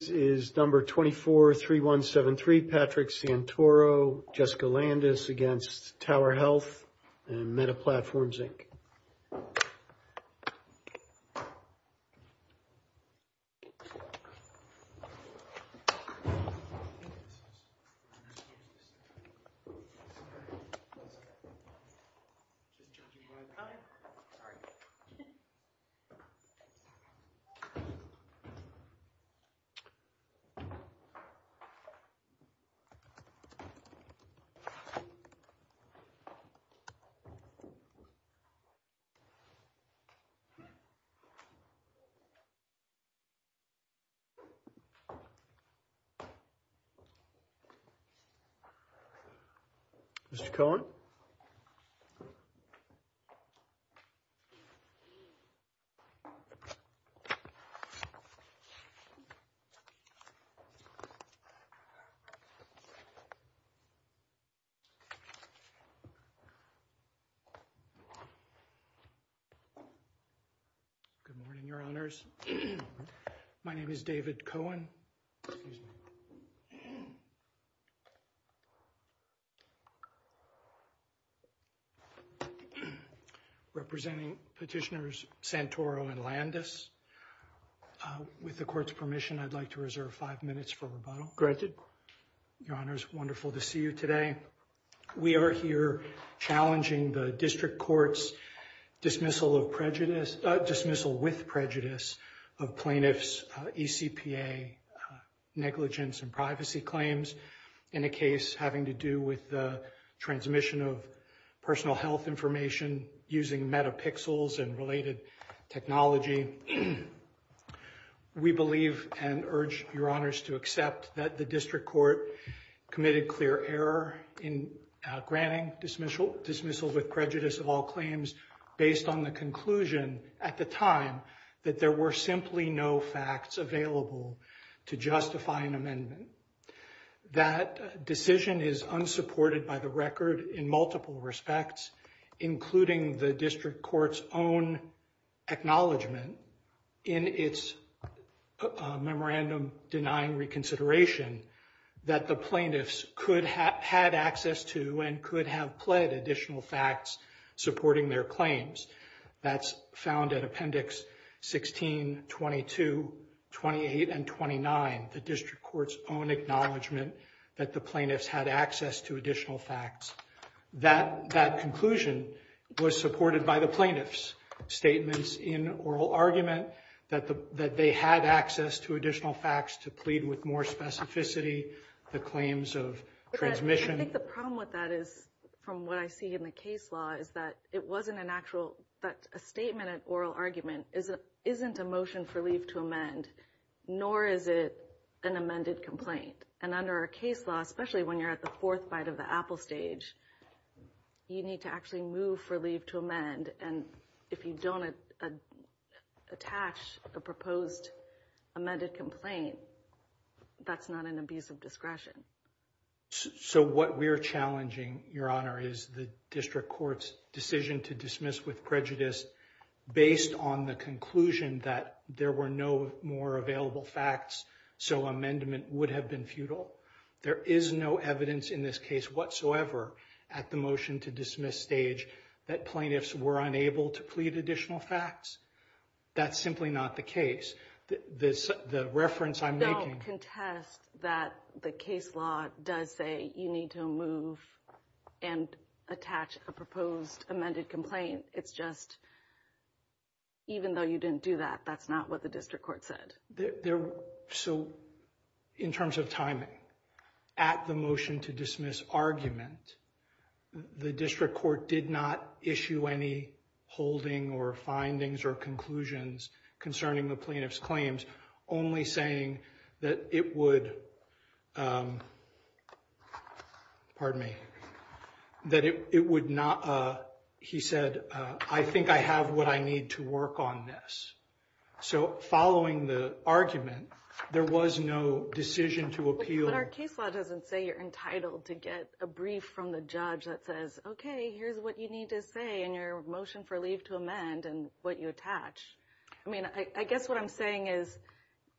is number 243173 Patrick Santoro Jessica Landis against Tower Health and Meta Platforms Inc. Good morning, Your Honors. My name is David Cohen, representing petitioners Santoro and Landis. With the court's permission, I'd like to reserve five minutes for rebuttal. Your Honors, wonderful to see you today. We are here challenging the district court's dismissal of prejudice, dismissal with prejudice of plaintiffs' eCPA negligence and privacy claims in a case having to do with the transmission of personal health information using metapixels and related technology. We believe and urge Your Honors to accept that the district court committed clear error in granting dismissal with prejudice of all claims based on the conclusion at the time that there were simply no facts available to justify an amendment. That decision is unsupported by the record in multiple respects, including the district court's own acknowledgment in its memorandum denying reconsideration that the plaintiffs could have had access to and could have pled additional facts supporting their claims. That's found in Appendix 16, 22, 28, and 29, the district court's own acknowledgment that the plaintiffs had access to additional facts. That conclusion was supported by the plaintiffs' statements in oral argument that they had access to additional facts to plead with more specificity, the claims of transmission. I think the problem with that is, from what I see in the case law, is that it wasn't an actual, that a statement at oral argument isn't a motion for leave to amend, nor is it an amended complaint. And under our case law, especially when you're at the fourth bite of the apple stage, you need to actually move for leave to amend. And if you don't attach the proposed amended complaint, that's not an abuse of discretion. So what we're challenging, Your Honor, is the district court's decision to dismiss with prejudice based on the conclusion that there were no more available facts, so amendment would have been futile. There is no evidence in this case whatsoever at the motion to dismiss stage that plaintiffs were unable to plead additional facts. That's simply not the case. The reference I'm making... Don't contest that the case law does say you need to move and attach a proposed amended complaint. It's just, even though you didn't do that, that's not what the district court said. So in terms of timing, at the motion to dismiss argument, the district court did not issue any holding or findings or conclusions concerning the plaintiff's claims, only saying that it would, pardon me, that it would not... He said, I think I have what I need to work on this. So following the argument, there was no decision to appeal... But our case law doesn't say you're entitled to get a brief from the judge that says, okay, here's what you need to say in your motion for leave to amend and what you attach. I mean, I guess what I'm saying is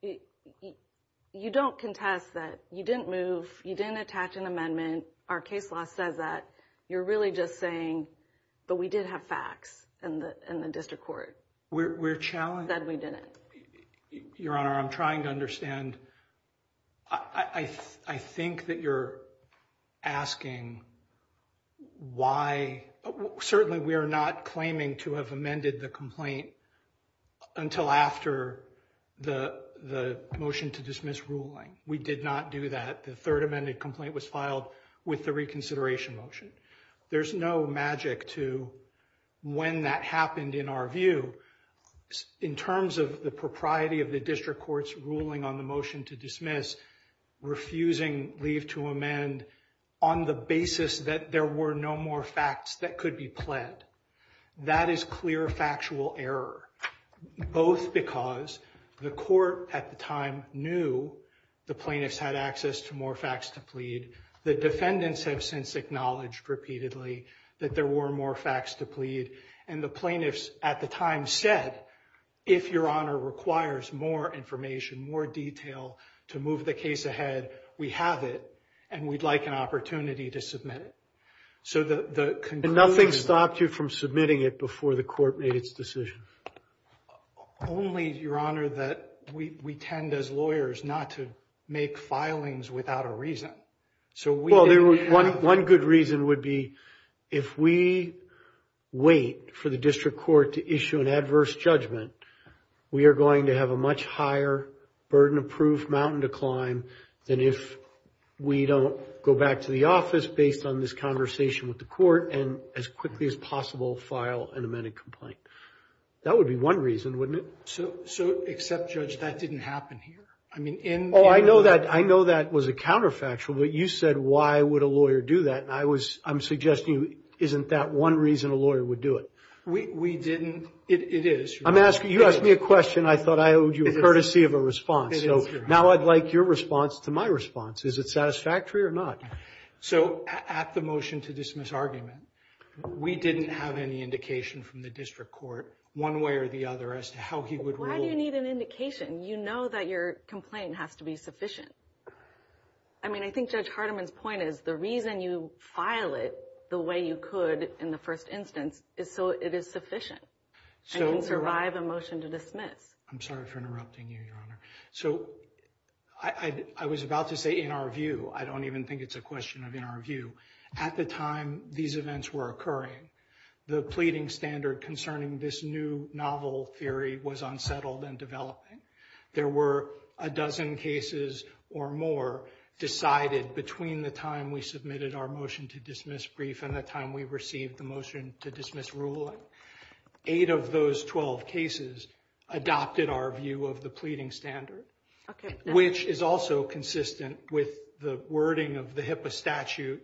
you don't contest that you didn't move, you didn't attach an amendment. Our case law says that. You're really just saying, but we did have facts in the district court. We're challenged... That we didn't. Your Honor, I'm trying to understand. I think that you're asking why... Certainly we are not claiming to have amended the complaint until after the motion to dismiss ruling. We did not do that. The third amended complaint was filed with the reconsideration motion. There's no magic to when that happened in our view. In terms of the propriety of the district court's ruling on the motion to dismiss, refusing leave to amend on the basis that there were no more facts that could be pled. That is clear factual error, both because the court at the time knew the plaintiffs had access to more facts to plead. The defendants have since acknowledged repeatedly that there were more facts to plead. The plaintiffs at the time said, if Your Honor requires more information, more detail to move the case ahead, we have it and we'd like an opportunity to submit it. Nothing stopped you from submitting it before the court made its decision? Only, Your Honor, that we tend as lawyers not to make filings without a reason. One good reason would be if we wait for the district court to issue an adverse judgment, we are going to have a much higher burden of proof mountain to climb than if we don't go back to the office based on this conversation with the court and as quickly as possible file an amended complaint. That would be one reason, wouldn't it? Except, Judge, that didn't happen here. Oh, I know that was a counterfactual, but you said, why would a lawyer do that? I'm suggesting isn't that one reason a lawyer would do it? We didn't. It is, Your Honor. You asked me a question I thought I owed you a courtesy of a response, so now I'd like your response to my response. Is it satisfactory or not? So at the motion to dismiss argument, we didn't have any indication from the district court one way or the other as to how he would rule. Why do you need an indication? You know that your complaint has to be sufficient. I mean, I think Judge Hardiman's point is the reason you file it the way you could in the first instance is so it is sufficient. So you can survive a motion to dismiss. I'm sorry for interrupting you, Your Honor. So I was about to say in our view, I don't even think it's a question of in our view. At the time these events were occurring, the pleading standard concerning this new novel theory was unsettled and developing. There were a dozen cases or more decided between the time we submitted our motion to dismiss brief and the time we received the motion to dismiss ruling. Eight of those 12 cases adopted our view of the pleading standard, which is also consistent with the wording of the HIPAA statute.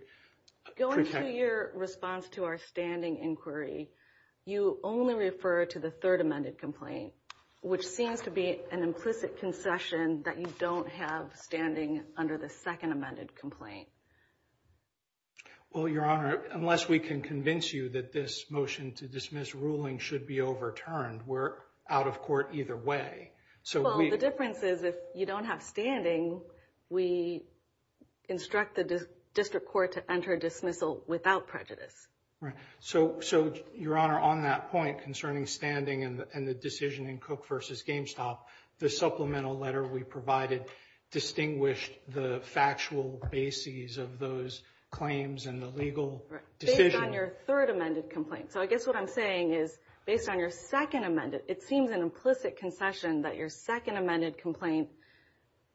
Going to your response to our standing inquiry, you only refer to the third amended complaint, which seems to be an implicit concession that you don't have standing under the second amended complaint. Well, Your Honor, unless we can convince you that this motion to dismiss ruling should be overturned, we're out of court either way. Well, the difference is if you don't have standing, we instruct the district court to enter dismissal without prejudice. Right. So, Your Honor, on that point concerning standing and the decision in Cook v. Gamestop, the supplemental letter we provided distinguished the factual bases of those claims and the legal decision. Based on your third amended complaint. So I guess what I'm saying is based on your second amended, it seems an implicit concession that your second amended complaint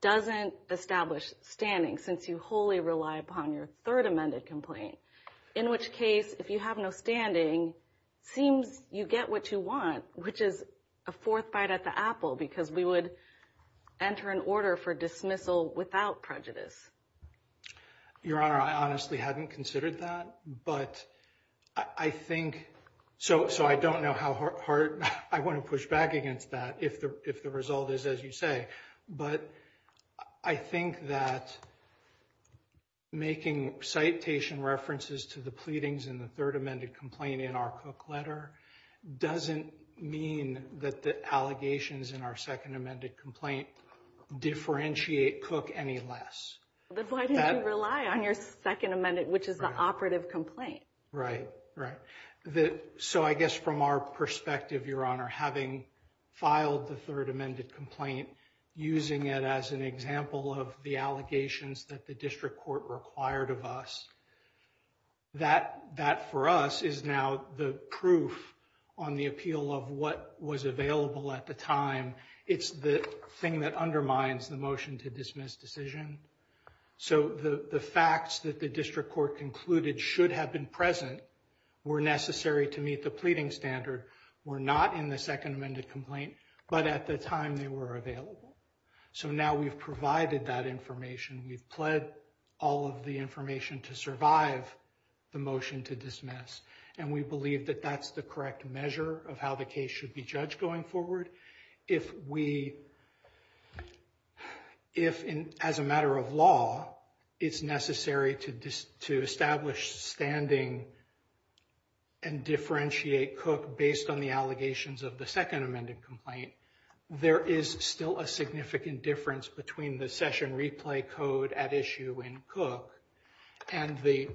doesn't establish standing since you wholly rely upon your third amended complaint. In which case, if you have no standing, seems you get what you want, which is a fourth bite at the apple because we would enter an order for dismissal without prejudice. Your Honor, I honestly hadn't considered that, but I think so. So I don't know how hard I want to push back against that if the result is as you say. But I think that making citation references to the pleadings in the third amended complaint in our Cook letter doesn't mean that the allegations in our second amended complaint differentiate Cook any less. But why did you rely on your second amended, which is the operative complaint? Right, right. So I guess from our perspective, Your Honor, having filed the third amended complaint, using it as an example of the allegations that the district court required of us, that for us is now the proof on the appeal of what was available at the time. It's the thing that undermines the motion to dismiss decision. So the facts that the district court concluded should have been present were necessary to meet the pleading standard, were not in the second amended complaint, but at the time they were available. So now we've provided that information, we've pled all of the information to survive the motion to dismiss. And we believe that that's the correct measure of how the case should be judged going forward. If we, if as a matter of law, it's necessary to establish standing and differentiate Cook based on the allegations of the second amended complaint, there is still a significant difference between the session replay code at issue in Cook and the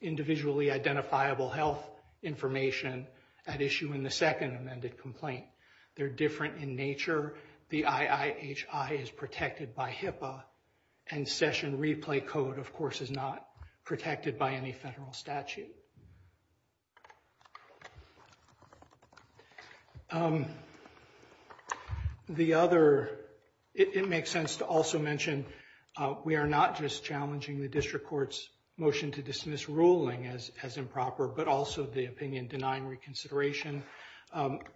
individually identifiable health information at issue in the second amended complaint. They're different in nature. The IIHI is protected by HIPAA and session replay code, of course, is not protected by any federal statute. The other, it makes sense to also mention, we are not just challenging the district court's motion to dismiss ruling as improper, but also the opinion denying reconsideration.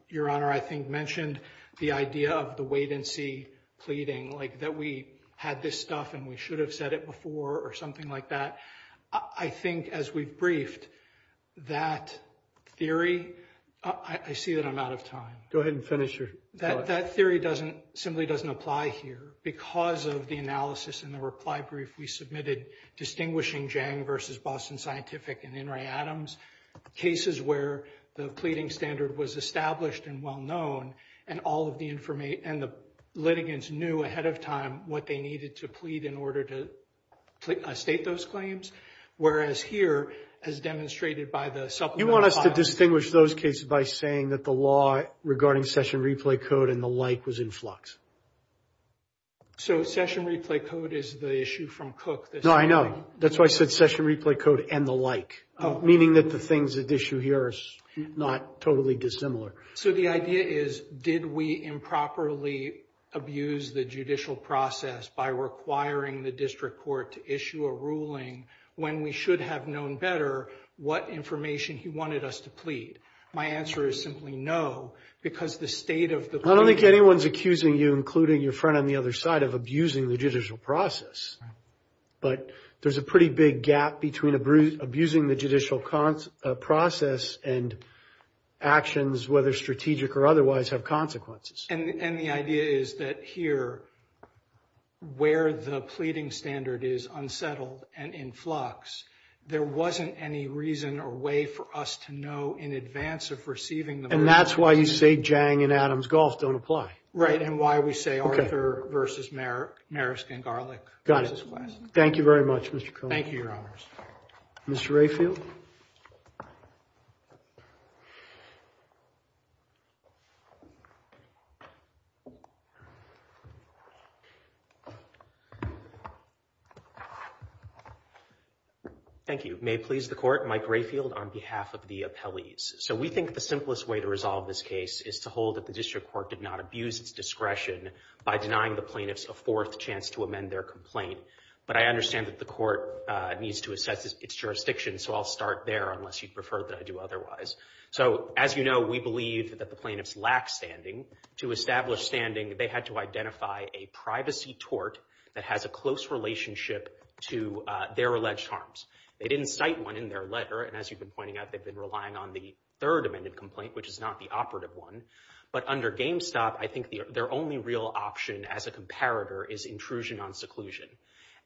Your honor, I think mentioned the idea of the wait and see pleading like that. We had this stuff and we should have said it before or something like that. I think as we've briefed that theory, I see that I'm out of time. Go ahead and finish your, that theory doesn't simply doesn't apply here because of the analysis and the reply brief we submitted, distinguishing Jang versus Boston Scientific and In re Adams. Cases where the pleading standard was established and well-known and all of the information and the litigants knew ahead of time what they needed to plead in order to state those claims. Whereas here, as demonstrated by the supplement. You want us to distinguish those cases by saying that the law regarding session replay code and the like was in flux. So, session replay code is the issue from Cook that's. No, I know. That's why I said session replay code and the like, meaning that the things that issue here is not totally dissimilar. So the idea is, did we improperly abuse the judicial process by requiring the district court to issue a ruling when we should have known better what information he wanted us to plead? My answer is simply no, because the state of the. I don't think anyone's accusing you, including your friend on the other side of abusing the judicial process, but there's a pretty big gap between abusing the judicial process and actions whether strategic or otherwise have consequences. And the idea is that here, where the pleading standard is unsettled and in flux, there wasn't any reason or way for us to know in advance of receiving the. And that's why you say Jang and Adams-Golf don't apply. Right. And why we say Arthur versus Marisk and Garlick. Got it. Thank you very much, Mr. Cone. Thank you, your honors. Mr. Rayfield. Thank you. May it please the court, Mike Rayfield on behalf of the appellees. So we think the simplest way to resolve this case is to hold that the district court did not abuse its discretion by denying the plaintiffs a fourth chance to amend their complaint. But I understand that the court needs to assess its jurisdiction. So I'll start there unless you prefer that I do otherwise. So as you know, we believe that the plaintiffs lack standing. To establish standing, they had to identify a privacy tort that has a close relationship to their alleged harms. They didn't cite one in their letter. And as you've been pointing out, they've been relying on the third amended complaint, which is not the operative one. But under GameStop, I think their only real option as a comparator is intrusion on seclusion.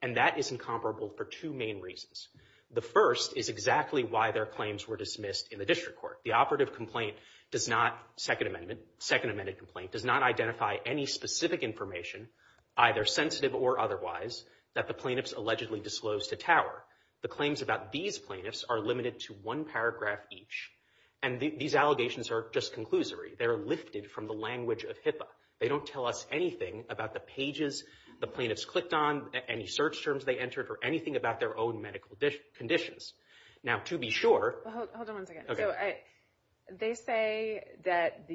And that is incomparable for two main reasons. The first is exactly why their claims were dismissed in the district court. The operative complaint does not, second amendment, second amended complaint, does not identify any specific information, either sensitive or otherwise, that the plaintiffs allegedly disclosed to Tower. The claims about these plaintiffs are limited to one paragraph each. And these allegations are just conclusory. They're lifted from the language of HIPAA. They don't tell us anything about the pages the plaintiffs clicked on, any search terms they entered, or anything about their own medical conditions. Now to be sure- Hold on one second. They say that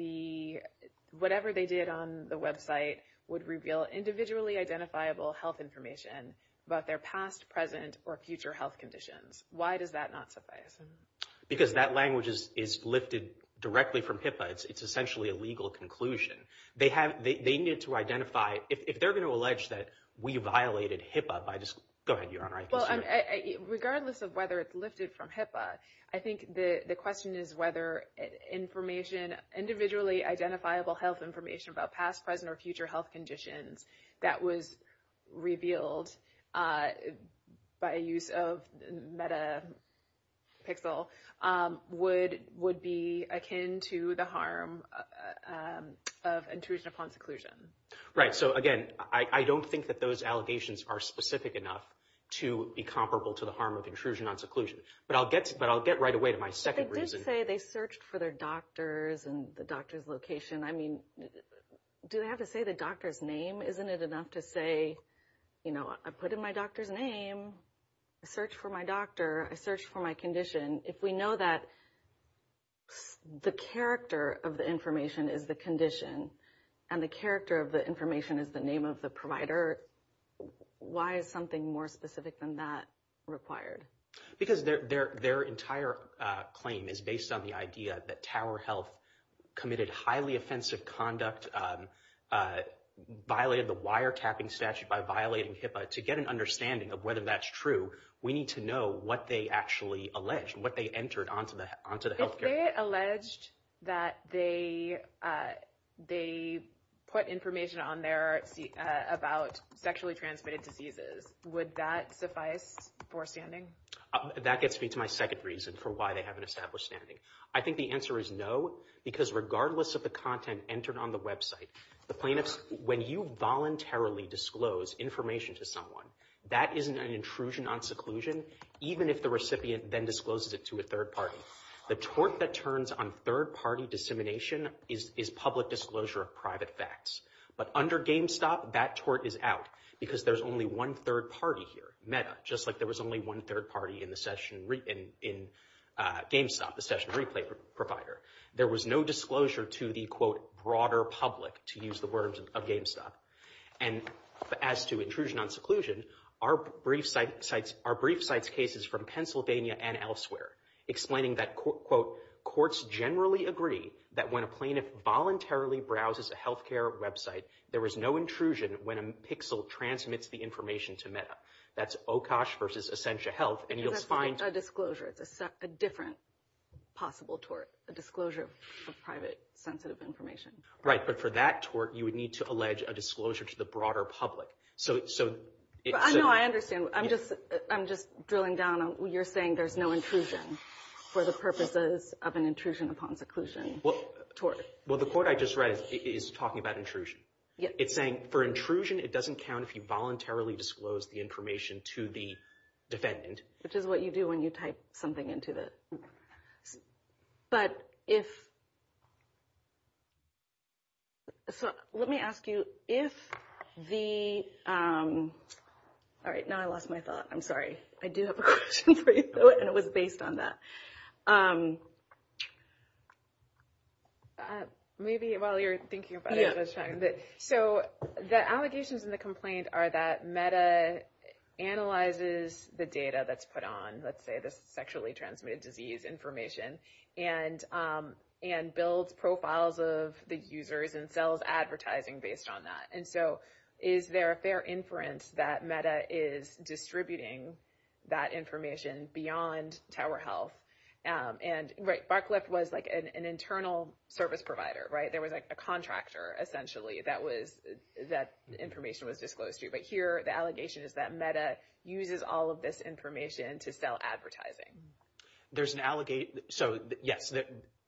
whatever they did on the website would reveal individually identifiable health information about their past, present, or future health conditions. Why does that not suffice? Because that language is lifted directly from HIPAA. It's essentially a legal conclusion. They have, they need to identify, if they're going to allege that we violated HIPAA by just- Go ahead, Your Honor. Regardless of whether it's lifted from HIPAA, I think the question is whether information, individually identifiable health information about past, present, or future health conditions that was revealed by use of Metapixel would be akin to the harm of intrusion upon seclusion. Right. So again, I don't think that those allegations are specific enough to be comparable to the harm of intrusion on seclusion. But I'll get right away to my second reason. But they did say they searched for their doctors and the doctor's location. I mean, do they have to say the doctor's name? Isn't it enough to say, I put in my doctor's name, I searched for my doctor, I searched for my condition. If we know that the character of the information is the condition and the character of the information is the name of the provider, why is something more specific than that required? Because their entire claim is based on the idea that Tower Health committed highly offensive conduct, violated the wiretapping statute by violating HIPAA. To get an understanding of whether that's true, we need to know what they actually alleged, what they entered onto the healthcare. If they alleged that they put information on there about sexually transmitted diseases, would that suffice for standing? That gets me to my second reason for why they haven't established standing. I think the answer is no, because regardless of the content entered on the website, the plaintiffs, when you voluntarily disclose information to someone, that isn't an intrusion on seclusion, even if the recipient then discloses it to a third party. The tort that turns on third party dissemination is public disclosure of private facts. But under GameStop, that tort is out because there's only one third party here, meta, just like there was only one third party in GameStop, the session replay provider. There was no disclosure to the, quote, broader public, to use the words of GameStop. And as to intrusion on seclusion, our brief cites cases from Pennsylvania and elsewhere, explaining that, quote, courts generally agree that when a plaintiff voluntarily browses a health care website, there is no intrusion when a pixel transmits the information to That's OCOSH versus Essentia Health, and you'll find- That's a disclosure. It's a different possible tort, a disclosure of private sensitive information. Right. But for that tort, you would need to allege a disclosure to the broader public. So- No, I understand. I'm just drilling down on, you're saying there's no intrusion for the purposes of an intrusion upon seclusion tort. Well, the quote I just read is talking about intrusion. It's saying, for intrusion, it doesn't count if you voluntarily disclose the information to the defendant. Which is what you do when you type something into the, but if, so let me ask you, if the, all right, now I lost my thought, I'm sorry, I do have a question for you, and it was based on that. Maybe while you're thinking about it, I was trying to, so the allegations in the complaint are that MEDA analyzes the data that's put on, let's say the sexually transmitted disease information, and builds profiles of the users and sells advertising based on that. And so, is there a fair inference that MEDA is distributing that information beyond Tower Health? And, right, Barcliffe was like an internal service provider, right? There was like a contractor, essentially, that was, that information was disclosed to you. But here, the allegation is that MEDA uses all of this information to sell advertising. There's an, so yes,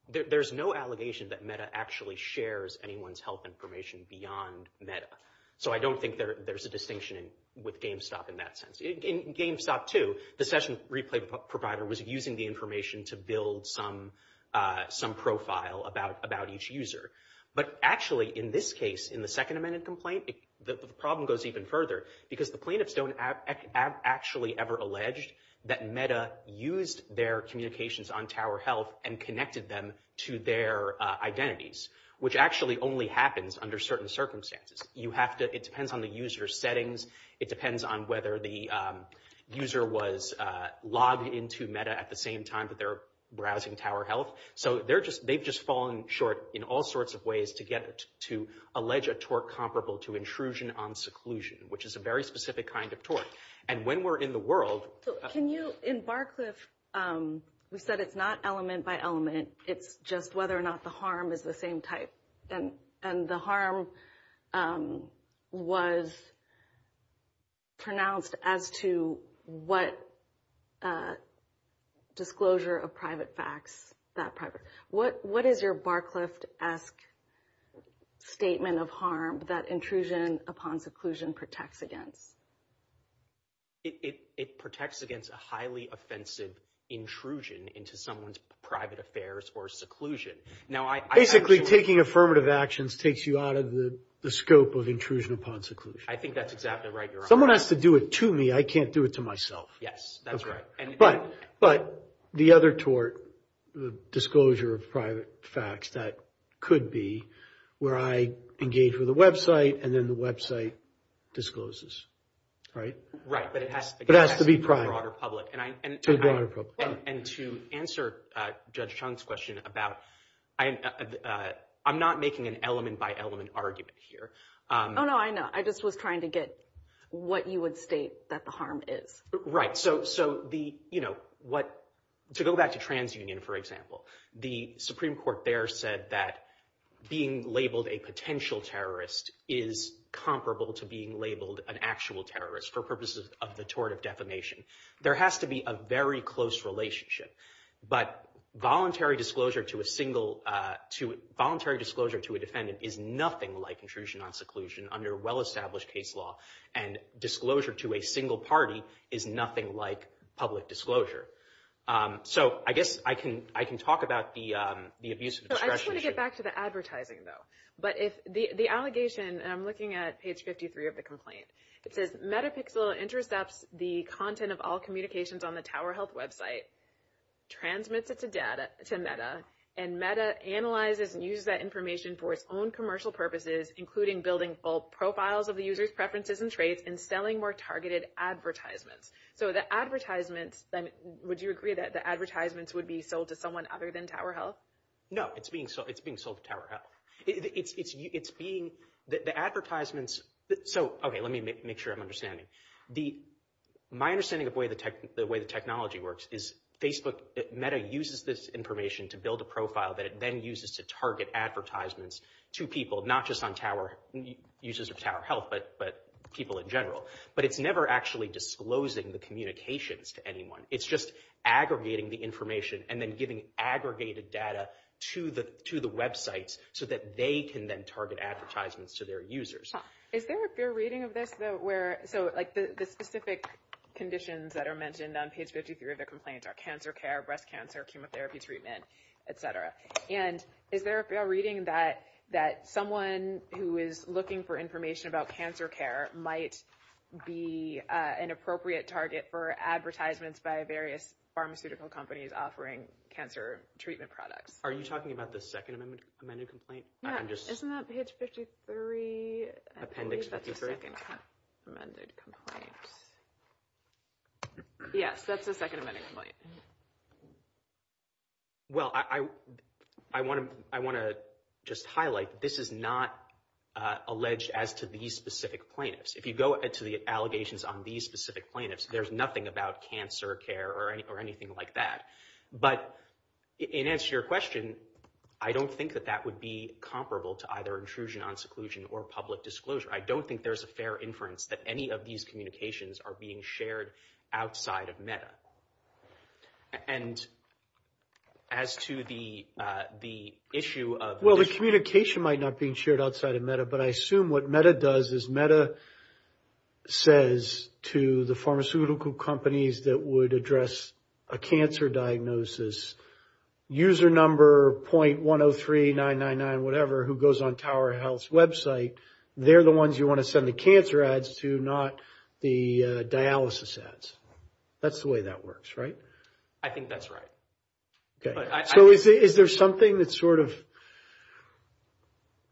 there's no allegation that MEDA actually shares anyone's health information beyond MEDA. So I don't think there's a distinction with GameStop in that sense. In GameStop 2, the session replay provider was using the information to build some profile about each user. But actually, in this case, in the second amended complaint, the problem goes even further, because the plaintiffs don't actually ever allege that MEDA used their communications on Tower Health and connected them to their identities, which actually only happens under certain circumstances. You have to, it depends on the user's settings. It depends on whether the user was logged into MEDA at the same time that they're browsing Tower Health. So they're just, they've just fallen short in all sorts of ways to get, to allege a tort comparable to intrusion on seclusion, which is a very specific kind of tort. And when we're in the world- So can you, in Barcliffe, we said it's not element by element. It's just whether or not the harm is the same type. And the harm was pronounced as to what disclosure of private facts, that private, what is your Barcliffe-esque statement of harm that intrusion upon seclusion protects against? It protects against a highly offensive intrusion into someone's private affairs or seclusion. Now I- Basically, taking affirmative actions takes you out of the scope of intrusion upon seclusion. I think that's exactly right, Your Honor. Someone has to do it to me. I can't do it to myself. Yes. That's right. But the other tort, the disclosure of private facts, that could be where I engage with a website and then the website discloses, right? Right. But it has- But it has to be private. To the broader public. To the broader public. I have a question about, I'm not making an element by element argument here. Oh, no. I know. I just was trying to get what you would state that the harm is. So the, you know, what, to go back to TransUnion, for example, the Supreme Court there said that being labeled a potential terrorist is comparable to being labeled an actual terrorist for purposes of the tort of defamation. There has to be a very close relationship. But voluntary disclosure to a single, to, voluntary disclosure to a defendant is nothing like intrusion on seclusion under well-established case law. And disclosure to a single party is nothing like public disclosure. So I guess I can, I can talk about the, the abuse of discretion issue. I just want to get back to the advertising, though. But if the, the allegation, and I'm looking at page 53 of the complaint, it says Metapixel intercepts the content of all communications on the Tower Health website, transmits it to data, to Meta, and Meta analyzes and uses that information for its own commercial purposes, including building both profiles of the user's preferences and traits, and selling more targeted advertisements. So the advertisements, would you agree that the advertisements would be sold to someone other than Tower Health? No. It's being sold, it's being sold to Tower Health. It's being, the advertisements, so, okay, let me make sure I'm understanding. The, my understanding of the way the technology works is Facebook, Meta uses this information to build a profile that it then uses to target advertisements to people, not just on Tower, users of Tower Health, but, but people in general. But it's never actually disclosing the communications to anyone. It's just aggregating the information and then giving aggregated data to the, to the websites, so that they can then target advertisements to their users. Is there a fair reading of this, though, where, so, like, the specific conditions that are mentioned on page 53 of the complaint are cancer care, breast cancer, chemotherapy treatment, et cetera. And is there a fair reading that, that someone who is looking for information about cancer care might be an appropriate target for advertisements by various pharmaceutical companies offering cancer treatment products? Are you talking about the second amendment, amended complaint? Yeah. Isn't that page 53? Appendix 53. I believe that's the second amended complaint. Yes, that's the second amended complaint. Well, I, I, I want to, I want to just highlight, this is not alleged as to these specific plaintiffs. If you go into the allegations on these specific plaintiffs, there's nothing about cancer care or anything like that. But, in answer to your question, I don't think that that would be comparable to either intrusion on seclusion or public disclosure. I don't think there's a fair inference that any of these communications are being shared outside of MEDA. And as to the, the issue of... Well, the communication might not be shared outside of MEDA, but I assume what MEDA does is MEDA says to the pharmaceutical companies that would address a cancer diagnosis, user number .103999, whatever, who goes on Tower Health's website, they're the ones you want to send the cancer ads to, not the dialysis ads. That's the way that works, right? I think that's right. Okay. So, is there something that sort of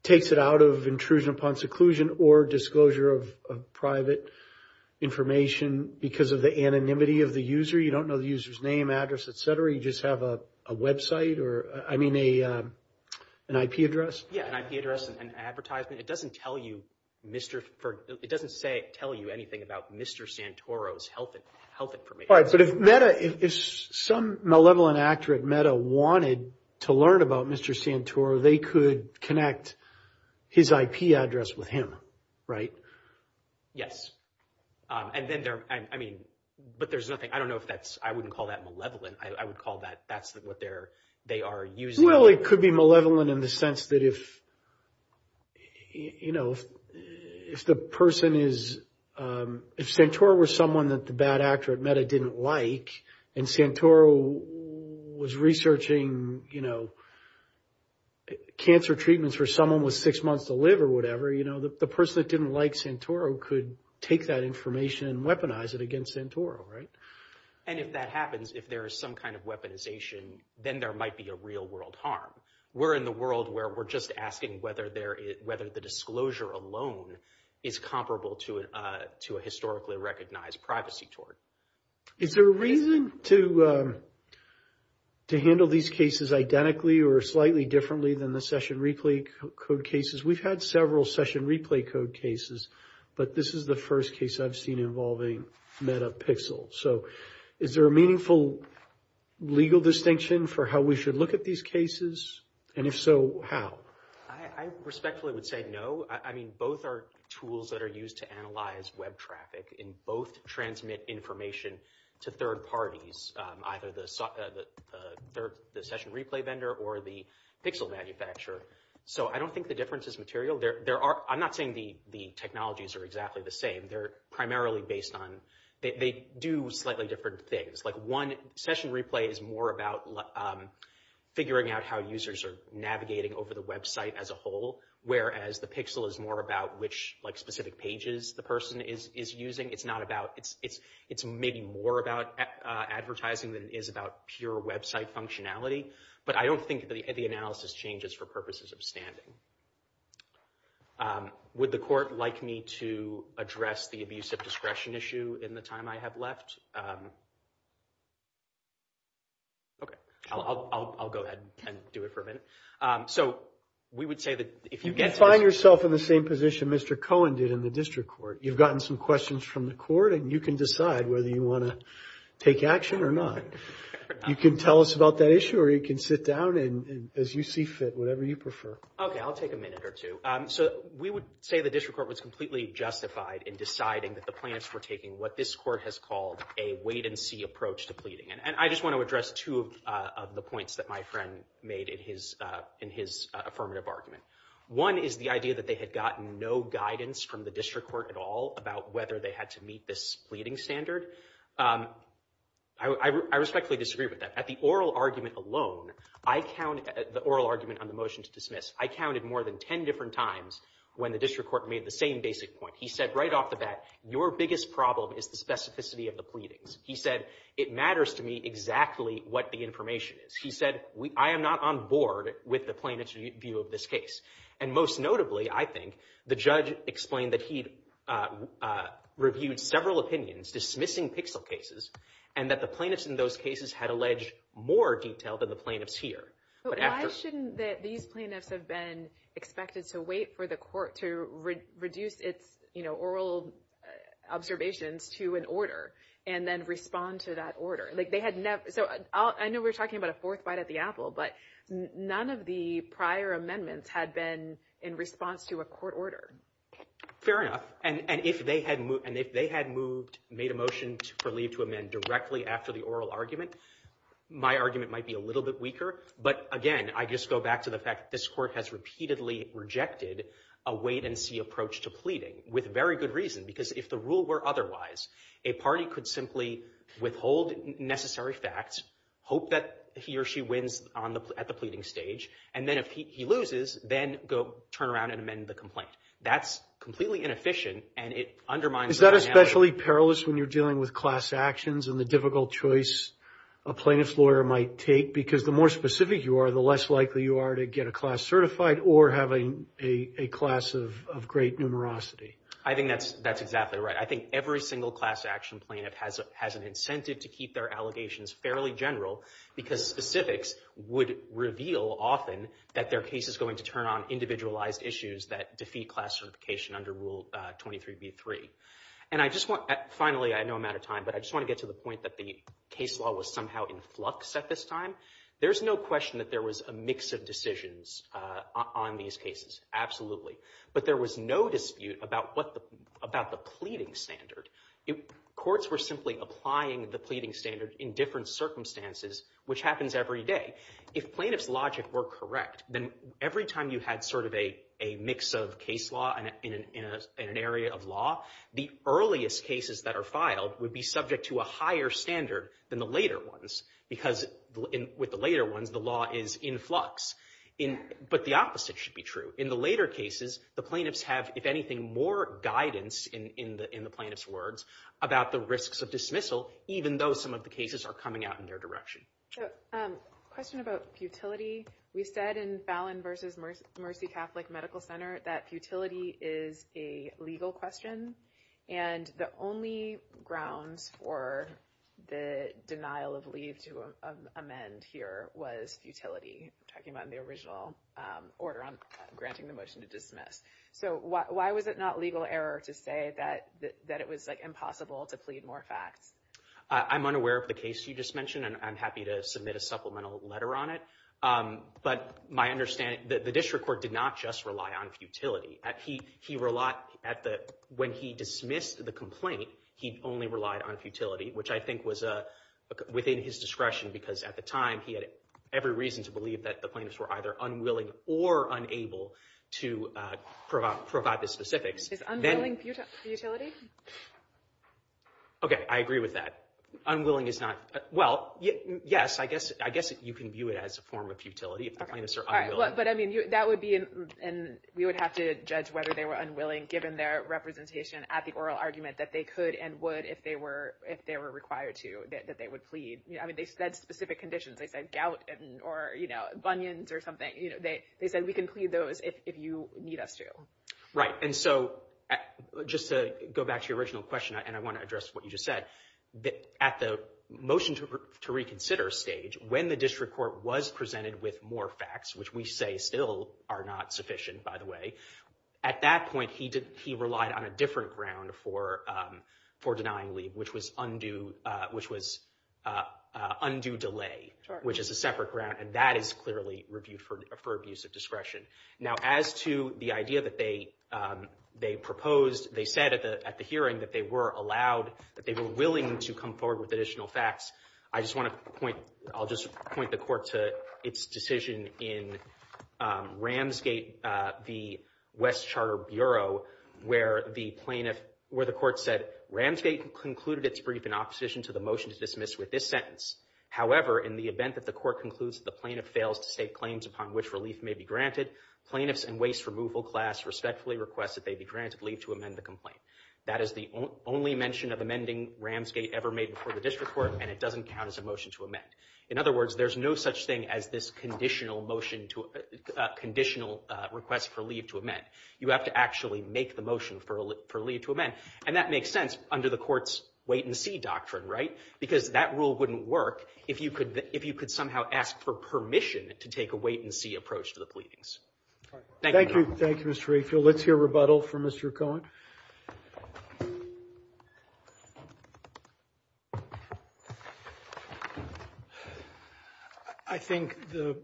takes it out of intrusion upon seclusion or disclosure of private information because of the anonymity of the user? You don't know the user's name, address, et cetera, you just have a website or, I mean, an IP address? Yeah. An IP address, an advertisement. It doesn't tell you, it doesn't say, tell you anything about Mr. Santoro's health information. All right, but if MEDA, if some malevolent actor at MEDA wanted to learn about Mr. Santoro, they could connect his IP address with him, right? Yes. And then there, I mean, but there's nothing, I don't know if that's, I wouldn't call that malevolent. I would call that, that's what they're, they are using. Well, it could be malevolent in the sense that if, you know, if the person is, if Santoro was someone that the bad actor at MEDA didn't like and Santoro was researching, you know, cancer treatments for someone with six months to live or whatever, you know, the person that didn't like Santoro could take that information and weaponize it against Santoro, right? And if that happens, if there is some kind of weaponization, then there might be a real world harm. We're in the world where we're just asking whether there is, whether the disclosure alone is comparable to a, to a historically recognized privacy tort. Is there a reason to, to handle these cases identically or slightly differently than the session replay code cases? We've had several session replay code cases, but this is the first case I've seen involving MEDAPixel. So is there a meaningful legal distinction for how we should look at these cases? And if so, how? I respectfully would say no. I mean, both are tools that are used to analyze web traffic and both transmit information to third parties, either the session replay vendor or the pixel manufacturer. So I don't think the difference is material. There are, I'm not saying the technologies are exactly the same. They're primarily based on, they do slightly different things. Like one session replay is more about figuring out how users are navigating over the website as a whole, whereas the pixel is more about which like specific pages the person is using. It's not about, it's maybe more about advertising than it is about pure website functionality. But I don't think the analysis changes for purposes of standing. Would the court like me to address the abuse of discretion issue in the time I have left? Okay, I'll go ahead and do it for a minute. So we would say that if you get to this- You can find yourself in the same position Mr. Cohen did in the district court. You've gotten some questions from the court and you can decide whether you want to take action or not. You can tell us about that issue or you can sit down and as you see fit, whatever you prefer. Okay, I'll take a minute or two. So we would say the district court was completely justified in deciding that the plans for taking what this court has called a wait and see approach to pleading. And I just want to address two of the points that my friend made in his affirmative argument. One is the idea that they had gotten no guidance from the district court at all about whether they had to meet this pleading standard. I respectfully disagree with that. At the oral argument alone, the oral argument on the motion to dismiss, I counted more than 10 different times when the district court made the same basic point. He said right off the bat, your biggest problem is the specificity of the pleadings. He said, it matters to me exactly what the information is. He said, I am not on board with the plaintiff's view of this case. And most notably, I think, the judge explained that he'd reviewed several opinions dismissing PIXL cases and that the plaintiffs in those cases had alleged more detail than the plaintiffs here. But after. Why shouldn't that these plaintiffs have been expected to wait for the court to reduce its, you know, oral observations to an order and then respond to that order? Like, they had never. So, I know we're talking about a fourth bite at the apple, but none of the prior amendments had been in response to a court order. Fair enough. And if they had moved, made a motion for leave to amend directly after the oral argument, my argument might be a little bit weaker. But again, I just go back to the fact that this court has repeatedly rejected a wait for very good reason, because if the rule were otherwise, a party could simply withhold necessary facts, hope that he or she wins at the pleading stage, and then if he loses, then go turn around and amend the complaint. That's completely inefficient, and it undermines. Is that especially perilous when you're dealing with class actions and the difficult choice a plaintiff's lawyer might take? Because the more specific you are, the less likely you are to get a class certified or having a class of great numerosity. I think that's exactly right. I think every single class action plaintiff has an incentive to keep their allegations fairly general, because specifics would reveal often that their case is going to turn on individualized issues that defeat class certification under Rule 23b-3. And I just want, finally, I know I'm out of time, but I just want to get to the point that the case law was somehow in flux at this time. There's no question that there was a mix of decisions on these cases, absolutely. But there was no dispute about the pleading standard. Courts were simply applying the pleading standard in different circumstances, which happens every day. If plaintiff's logic were correct, then every time you had sort of a mix of case law in an area of law, the earliest cases that are filed would be subject to a higher standard than the later ones, because with the later ones, the law is in flux. But the opposite should be true. In the later cases, the plaintiffs have, if anything, more guidance in the plaintiff's words about the risks of dismissal, even though some of the cases are coming out in their direction. So, question about futility. We said in Fallon versus Mercy Catholic Medical Center that futility is a legal question. And the only grounds for the denial of leave to amend here was futility, talking about the original order on granting the motion to dismiss. So, why was it not legal error to say that it was impossible to plead more facts? I'm unaware of the case you just mentioned, and I'm happy to submit a supplemental letter on it. But my understanding, the district court did not just rely on futility. He relied, when he dismissed the complaint, he only relied on futility, which I think was within his discretion, because at the time, he had every reason to believe that the plaintiffs were either unwilling or unable to provide the specifics. Is unwilling futility? Okay, I agree with that. Unwilling is not, well, yes, I guess you can view it as a form of futility if the plaintiffs are unwilling. But, I mean, that would be, and we would have to judge whether they were unwilling, given their representation at the oral argument, that they could and would, if they were required to, that they would plead. I mean, they said specific conditions. They said gout or bunions or something. You know, they said, we can plead those if you need us to. Right, and so, just to go back to your original question, and I want to address what you just said, at the motion to reconsider stage, when the district court was presented with more facts, which we say still are not sufficient, by the way, at that point, he relied on a different ground for denying leave, which was undue delay, which is a separate ground, and that is clearly reviewed for abuse of discretion. Now, as to the idea that they proposed, they said at the hearing that they were allowed, that they were willing to come forward with additional facts. I just want to point, I'll just point the court to its decision in Ramsgate, the West Charter Bureau, where the plaintiff, where the court said, Ramsgate concluded its brief in opposition to the motion to dismiss with this sentence. However, in the event that the court concludes that the plaintiff fails to state claims upon which relief may be granted, plaintiffs and waste removal class respectfully request that they be granted leave to amend the complaint. That is the only mention of amending Ramsgate ever made before the district court, and it doesn't count as a motion to amend. In other words, there's no such thing as this conditional motion to, conditional request for leave to amend. You have to actually make the motion for leave to amend, and that makes sense under the court's wait-and-see doctrine, right? Because that rule wouldn't work if you could somehow ask for permission to take a wait-and-see approach to the pleadings. Thank you. Thank you, Mr. Rayfield. Let's hear rebuttal from Mr. Cohen. I think the,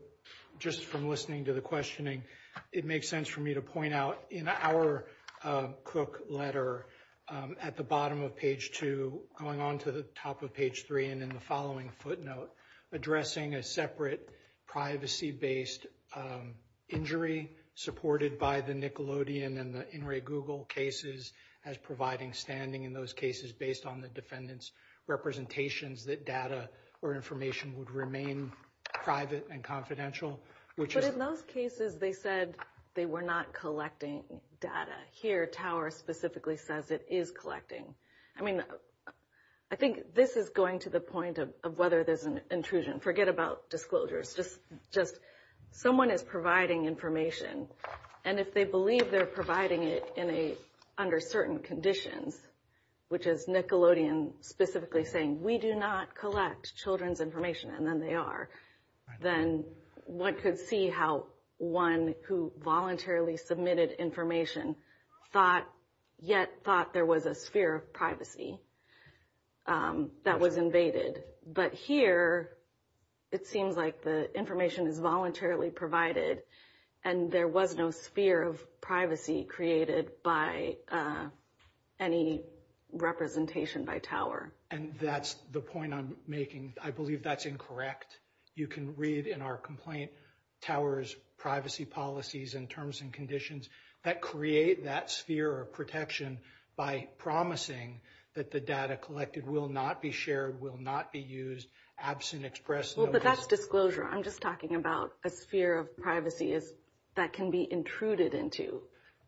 just from listening to the questioning, it makes sense for me to point out in our Cook letter at the bottom of page two, going on to the top of page three, and in the following footnote, addressing a separate privacy-based injury supported by the Nickelodeon and the In re Google cases as providing standing in those cases based on the defendant's representations that data or information would remain private and confidential, which is... But in those cases, they said they were not collecting data. Here, Tower specifically says it is collecting. I mean, I think this is going to the point of whether there's an intrusion. Forget about disclosures, just someone is providing information, and if they believe they're providing it under certain conditions, which is Nickelodeon specifically saying, we do not collect children's information, and then they are, then one could see how one who voluntarily submitted information thought, yet thought there was a sphere of privacy that was invaded. But here, it seems like the information is voluntarily provided, and there was no sphere of privacy created by any representation by Tower. And that's the point I'm making. I believe that's incorrect. You can read in our complaint, Tower's privacy policies and terms and conditions that create that sphere of protection by promising that the data collected will not be shared, will not be used, absent express notice. Well, but that's disclosure. I'm just talking about a sphere of privacy that can be intruded into,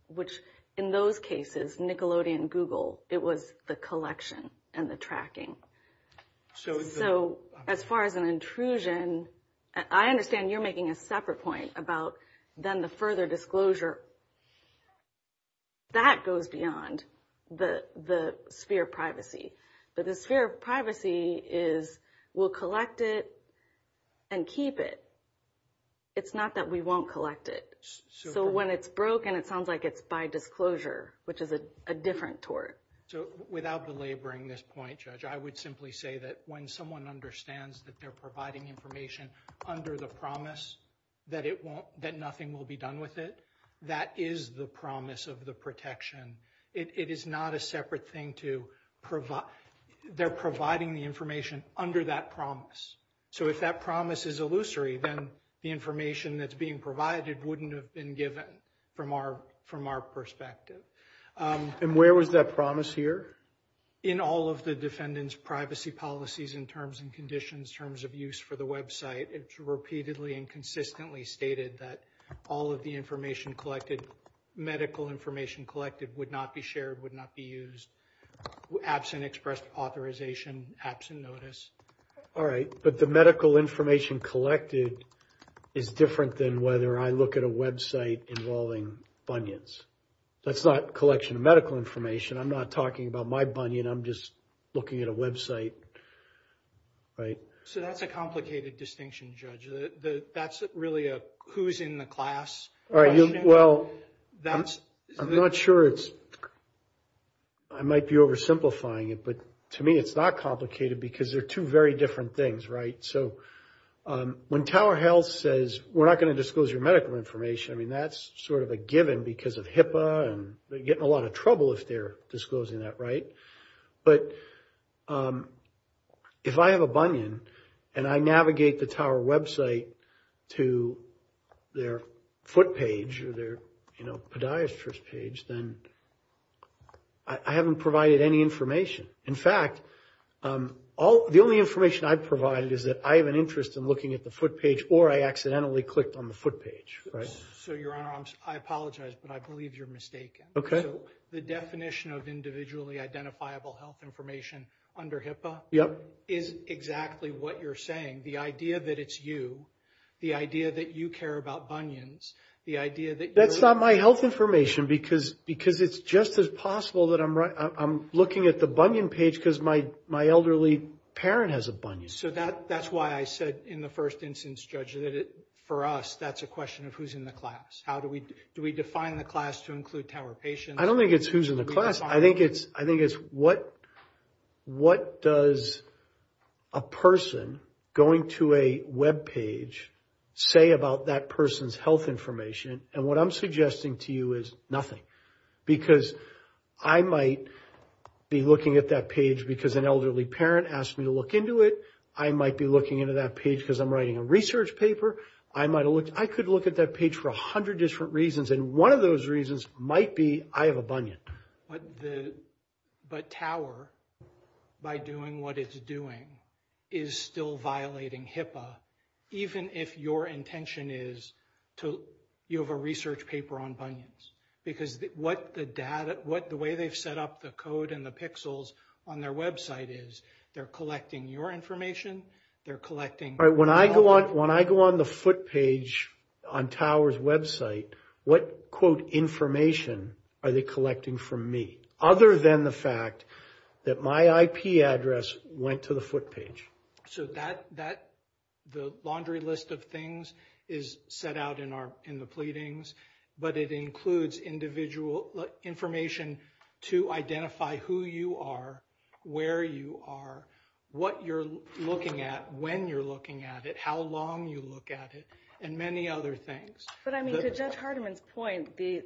which in those cases, Nickelodeon, Google, it was the collection and the tracking. So as far as an intrusion, I understand you're making a separate point about then the further disclosure. That goes beyond the sphere of privacy. But the sphere of privacy is we'll collect it and keep it. It's not that we won't collect it. So when it's broken, it sounds like it's by disclosure, which is a different tort. So without belaboring this point, Judge, I would simply say that when someone understands that they're providing information under the promise that nothing will be done with it, that is the promise of the protection. It is not a separate thing to provide. They're providing the information under that promise. So if that promise is illusory, then the information that's being provided wouldn't have been given from our perspective. And where was that promise here? In all of the defendant's privacy policies in terms and conditions, terms of use for the website. It's repeatedly and consistently stated that all of the information collected, medical information collected would not be shared, would not be used, absent express authorization, absent notice. All right. But the medical information collected is different than whether I look at a website involving bunions. That's not collection of medical information. I'm not talking about my bunion. I'm just looking at a website, right? So that's a complicated distinction, Judge. That's really a who's in the class question. Well, I'm not sure it's... I might be oversimplifying it, but to me it's not complicated because they're two very different things, right? So when Tower Health says, we're not going to disclose your medical information, I mean, that's sort of a given because of HIPAA and they're getting in a lot of trouble if they're disclosing that, right? But if I have a bunion and I navigate the Tower website to their foot page or their podiatrist page, then I haven't provided any information. In fact, the only information I've provided is that I have an interest in looking at the foot page or I accidentally clicked on the foot page, right? So, Your Honor, I apologize, but I believe you're mistaken. Okay. The definition of individually identifiable health information under HIPAA is exactly what you're saying. The idea that it's you, the idea that you care about bunions, the idea that you're... That's not my health information because it's just as possible that I'm looking at the bunion page because my elderly parent has a bunion. So that's why I said in the first instance, Judge, that for us that's a question of who's in the class. How do we... Do we define the class to include Tower patients? I don't think it's who's in the class. I think it's what does a person going to a web page say about that person's health information? And what I'm suggesting to you is nothing because I might be looking at that page because an elderly parent asked me to look into it. I might be looking into that page because I'm writing a research paper. I could look at that page for a hundred different reasons and one of those reasons might be I have a bunion. But Tower, by doing what it's doing, is still violating HIPAA even if your intention is to... You have a research paper on bunions because the way they've set up the code and the pixels on their website is they're collecting your information. They're collecting- All right. When I go on the foot page on Tower's website, what, quote, information are they collecting from me other than the fact that my IP address went to the foot page? So the laundry list of things is set out in the pleadings, but it includes individual information to identify who you are, where you are, what you're looking at, when you're looking at it, how long you look at it, and many other things. But I mean, to Judge Hardiman's point, the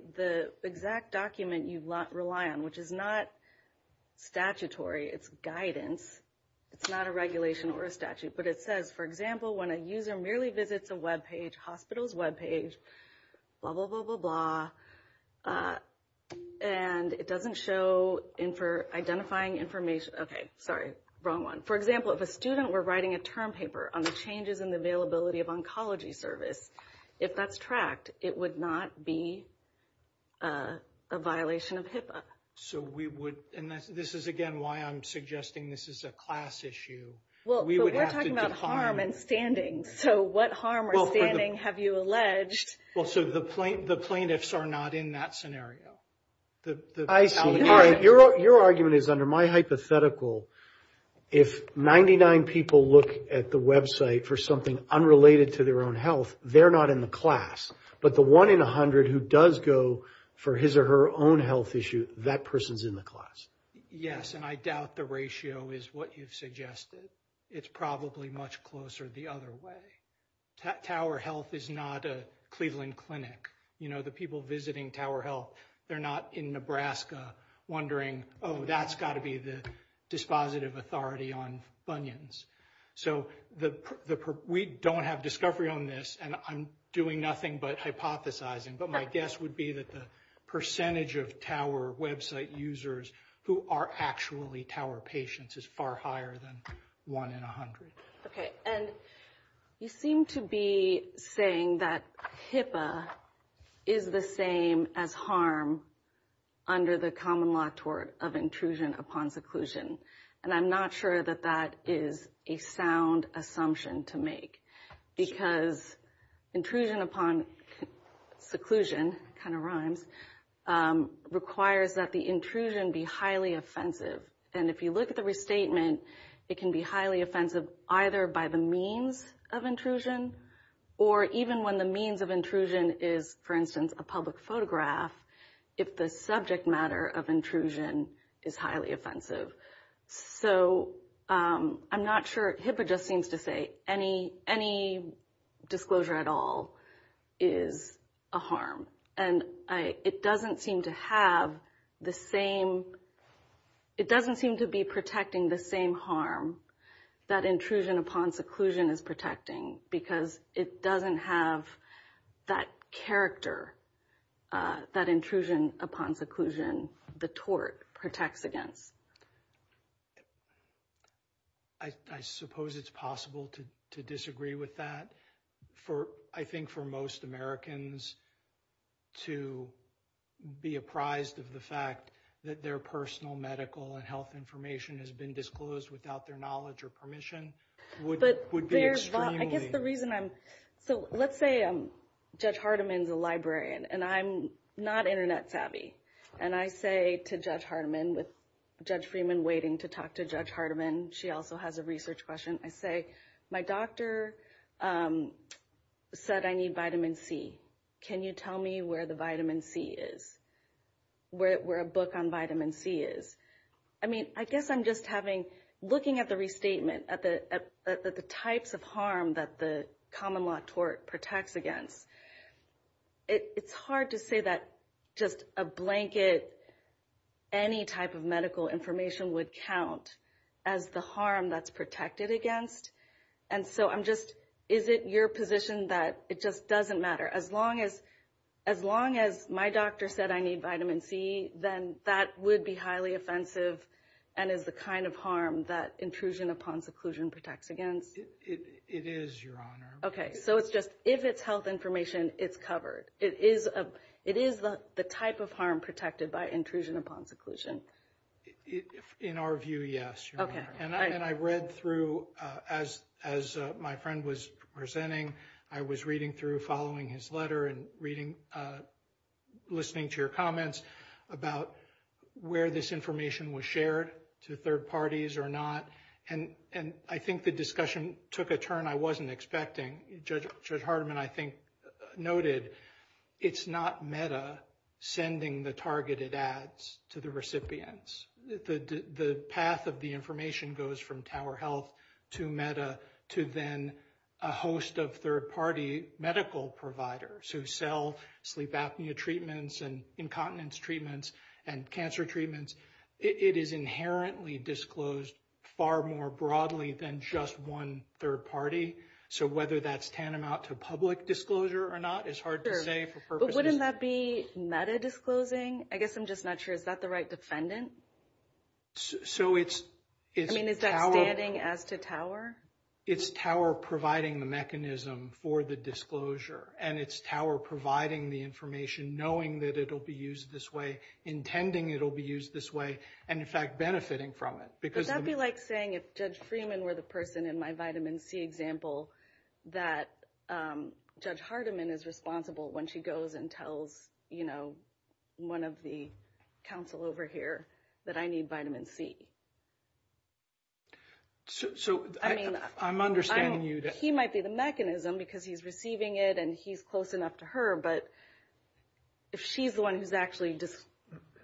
exact document you rely on, which is not statutory, it's guidance, it's not a regulation or a statute, but it says, for example, when a user merely visits a webpage, hospital's webpage, blah, blah, blah, blah, blah, and it doesn't show identifying information... Okay, sorry, wrong one. For example, if a student were writing a term paper on the changes in the availability of oncology service, if that's tracked, it would not be a violation of HIPAA. So we would, and this is, again, why I'm suggesting this is a class issue. Well, but we're talking about harm and standing, so what harm or standing have you alleged? Well, so the plaintiffs are not in that scenario. I see. All right, your argument is, under my hypothetical, if 99 people look at the website for something unrelated to their own health, they're not in the class, but the one in 100 who does go for his or her own health issue, that person's in the class. Yes, and I doubt the ratio is what you've suggested. It's probably much closer the other way. Tower Health is not a Cleveland clinic. You know, the people visiting Tower Health, they're not in Nebraska wondering, oh, that's got to be the dispositive authority on bunions. So we don't have discovery on this, and I'm doing nothing but hypothesizing, but my guess would be that the percentage of Tower website users who are actually Tower patients is far higher than one in 100. Okay, and you seem to be saying that HIPAA is the same as harm under the common law tort of intrusion upon seclusion, and I'm not sure that that is a sound assumption to make because intrusion upon seclusion, kind of rhymes, requires that the intrusion be highly offensive, and if you look at the restatement, it can be highly offensive either by the means of intrusion or even when the means of intrusion is, for instance, a public photograph, if the subject matter of intrusion is highly offensive. So I'm not sure, HIPAA just seems to say any disclosure at all is a harm, and it doesn't seem to have the same, it doesn't seem to be protecting the same harm that intrusion upon seclusion is protecting because it doesn't have that character, that intrusion upon seclusion, the tort, protects against. I suppose it's possible to disagree with that. For, I think for most Americans to be apprised of the fact that their personal medical and health information has been disclosed without their knowledge or permission would be extremely. I guess the reason I'm, so let's say Judge Hardiman's a librarian and I'm not internet savvy, and I say to Judge Hardiman with Judge Freeman waiting to talk to Judge Hardiman, she also has a research question, I say, my doctor said I need vitamin C. Can you tell me where the vitamin C is? Where a book on vitamin C is? I mean, I guess I'm just having, looking at the restatement, at the types of harm that the common law tort protects against, it's hard to say that just a blanket, any type of medical information would count as the harm that's protected against. And so I'm just, is it your position that it just doesn't matter? As long as my doctor said I need vitamin C, then that would be highly offensive and is the kind of harm that intrusion upon seclusion protects against. It is, Your Honor. Okay, so it's just, if it's health information, it's covered. It is the type of harm protected by intrusion upon seclusion. In our view, yes, Your Honor. And I read through, as my friend was presenting, I was reading through, following his letter and reading, listening to your comments about where this information was shared to third parties or not. And I think the discussion took a turn I wasn't expecting. Judge Hardiman, I think, noted it's not MEDA sending the targeted ads to the recipients. The path of the information goes from Tower Health to MEDA to then a host of third-party medical providers who sell sleep apnea treatments and incontinence treatments and cancer treatments. It is inherently disclosed far more broadly than just one third-party. So whether that's tantamount to public disclosure or not is hard to say for purposes. But wouldn't that be MEDA disclosing? I guess I'm just not sure. Is that the right defendant? So it's Tower. I mean, is that standing as to Tower? It's Tower providing the mechanism for the disclosure and it's Tower providing the information knowing that it'll be used this way, intending it'll be used this way, and in fact benefiting from it. Because- Would that be like saying if Judge Freeman were the person in my vitamin C example that Judge Hardiman is responsible when she goes and tells one of the counsel over here that I need vitamin C? So I mean- I'm understanding you that- He might be the mechanism because he's receiving it and he's close enough to her. But if she's the one who's actually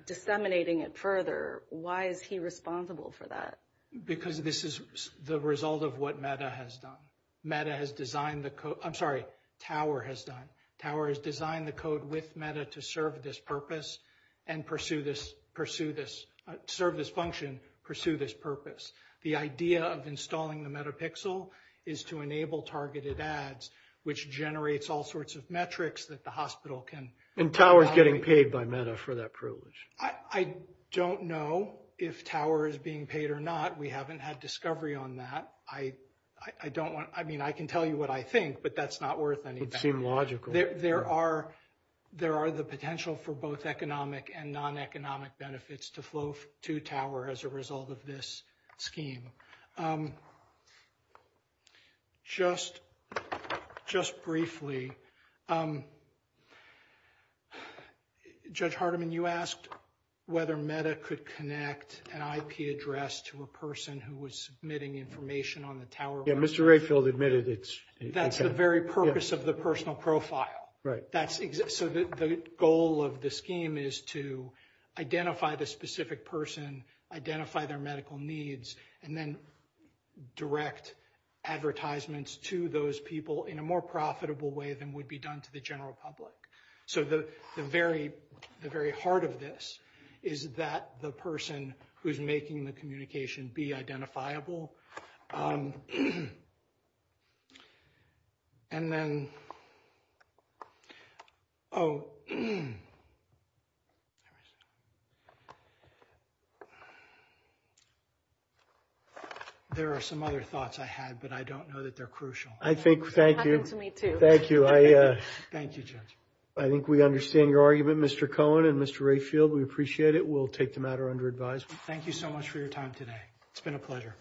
disseminating it further, why is he responsible for that? Because this is the result of what MEDA has done. MEDA has designed the code- I'm sorry, Tower has done. Tower has designed the code with MEDA to serve this purpose and pursue this- serve this function, pursue this purpose. The idea of installing the MEDAPixel is to enable targeted ads, which generates all sorts of metrics that the hospital can- And Tower's getting paid by MEDA for that privilege. I don't know if Tower is being paid or not. We haven't had discovery on that. I don't want- I mean, I can tell you what I think, but that's not worth anything. There are the potential for both economic and non-economic benefits to flow to Tower as a result of this scheme. Just briefly, Judge Hardiman, you asked whether MEDA could connect an IP address to a person who was submitting information on the Tower website. Yeah, Mr. Rayfield admitted it's- That's the very purpose of the personal profile. Right. So the goal of the scheme is to identify the specific person, identify their medical needs, and then direct advertisements to those people in a more profitable way than would be done to the general public. So the very heart of this is that the person who's making the communication be identifiable. And then- There are some other thoughts I had, but I don't know that they're crucial. I think- It happened to me too. Thank you. Thank you, Judge. I think we understand your argument, Mr. Cohen and Mr. Rayfield. We appreciate it. We'll take the matter under advisement. Thank you so much for your time today. It's been a pleasure.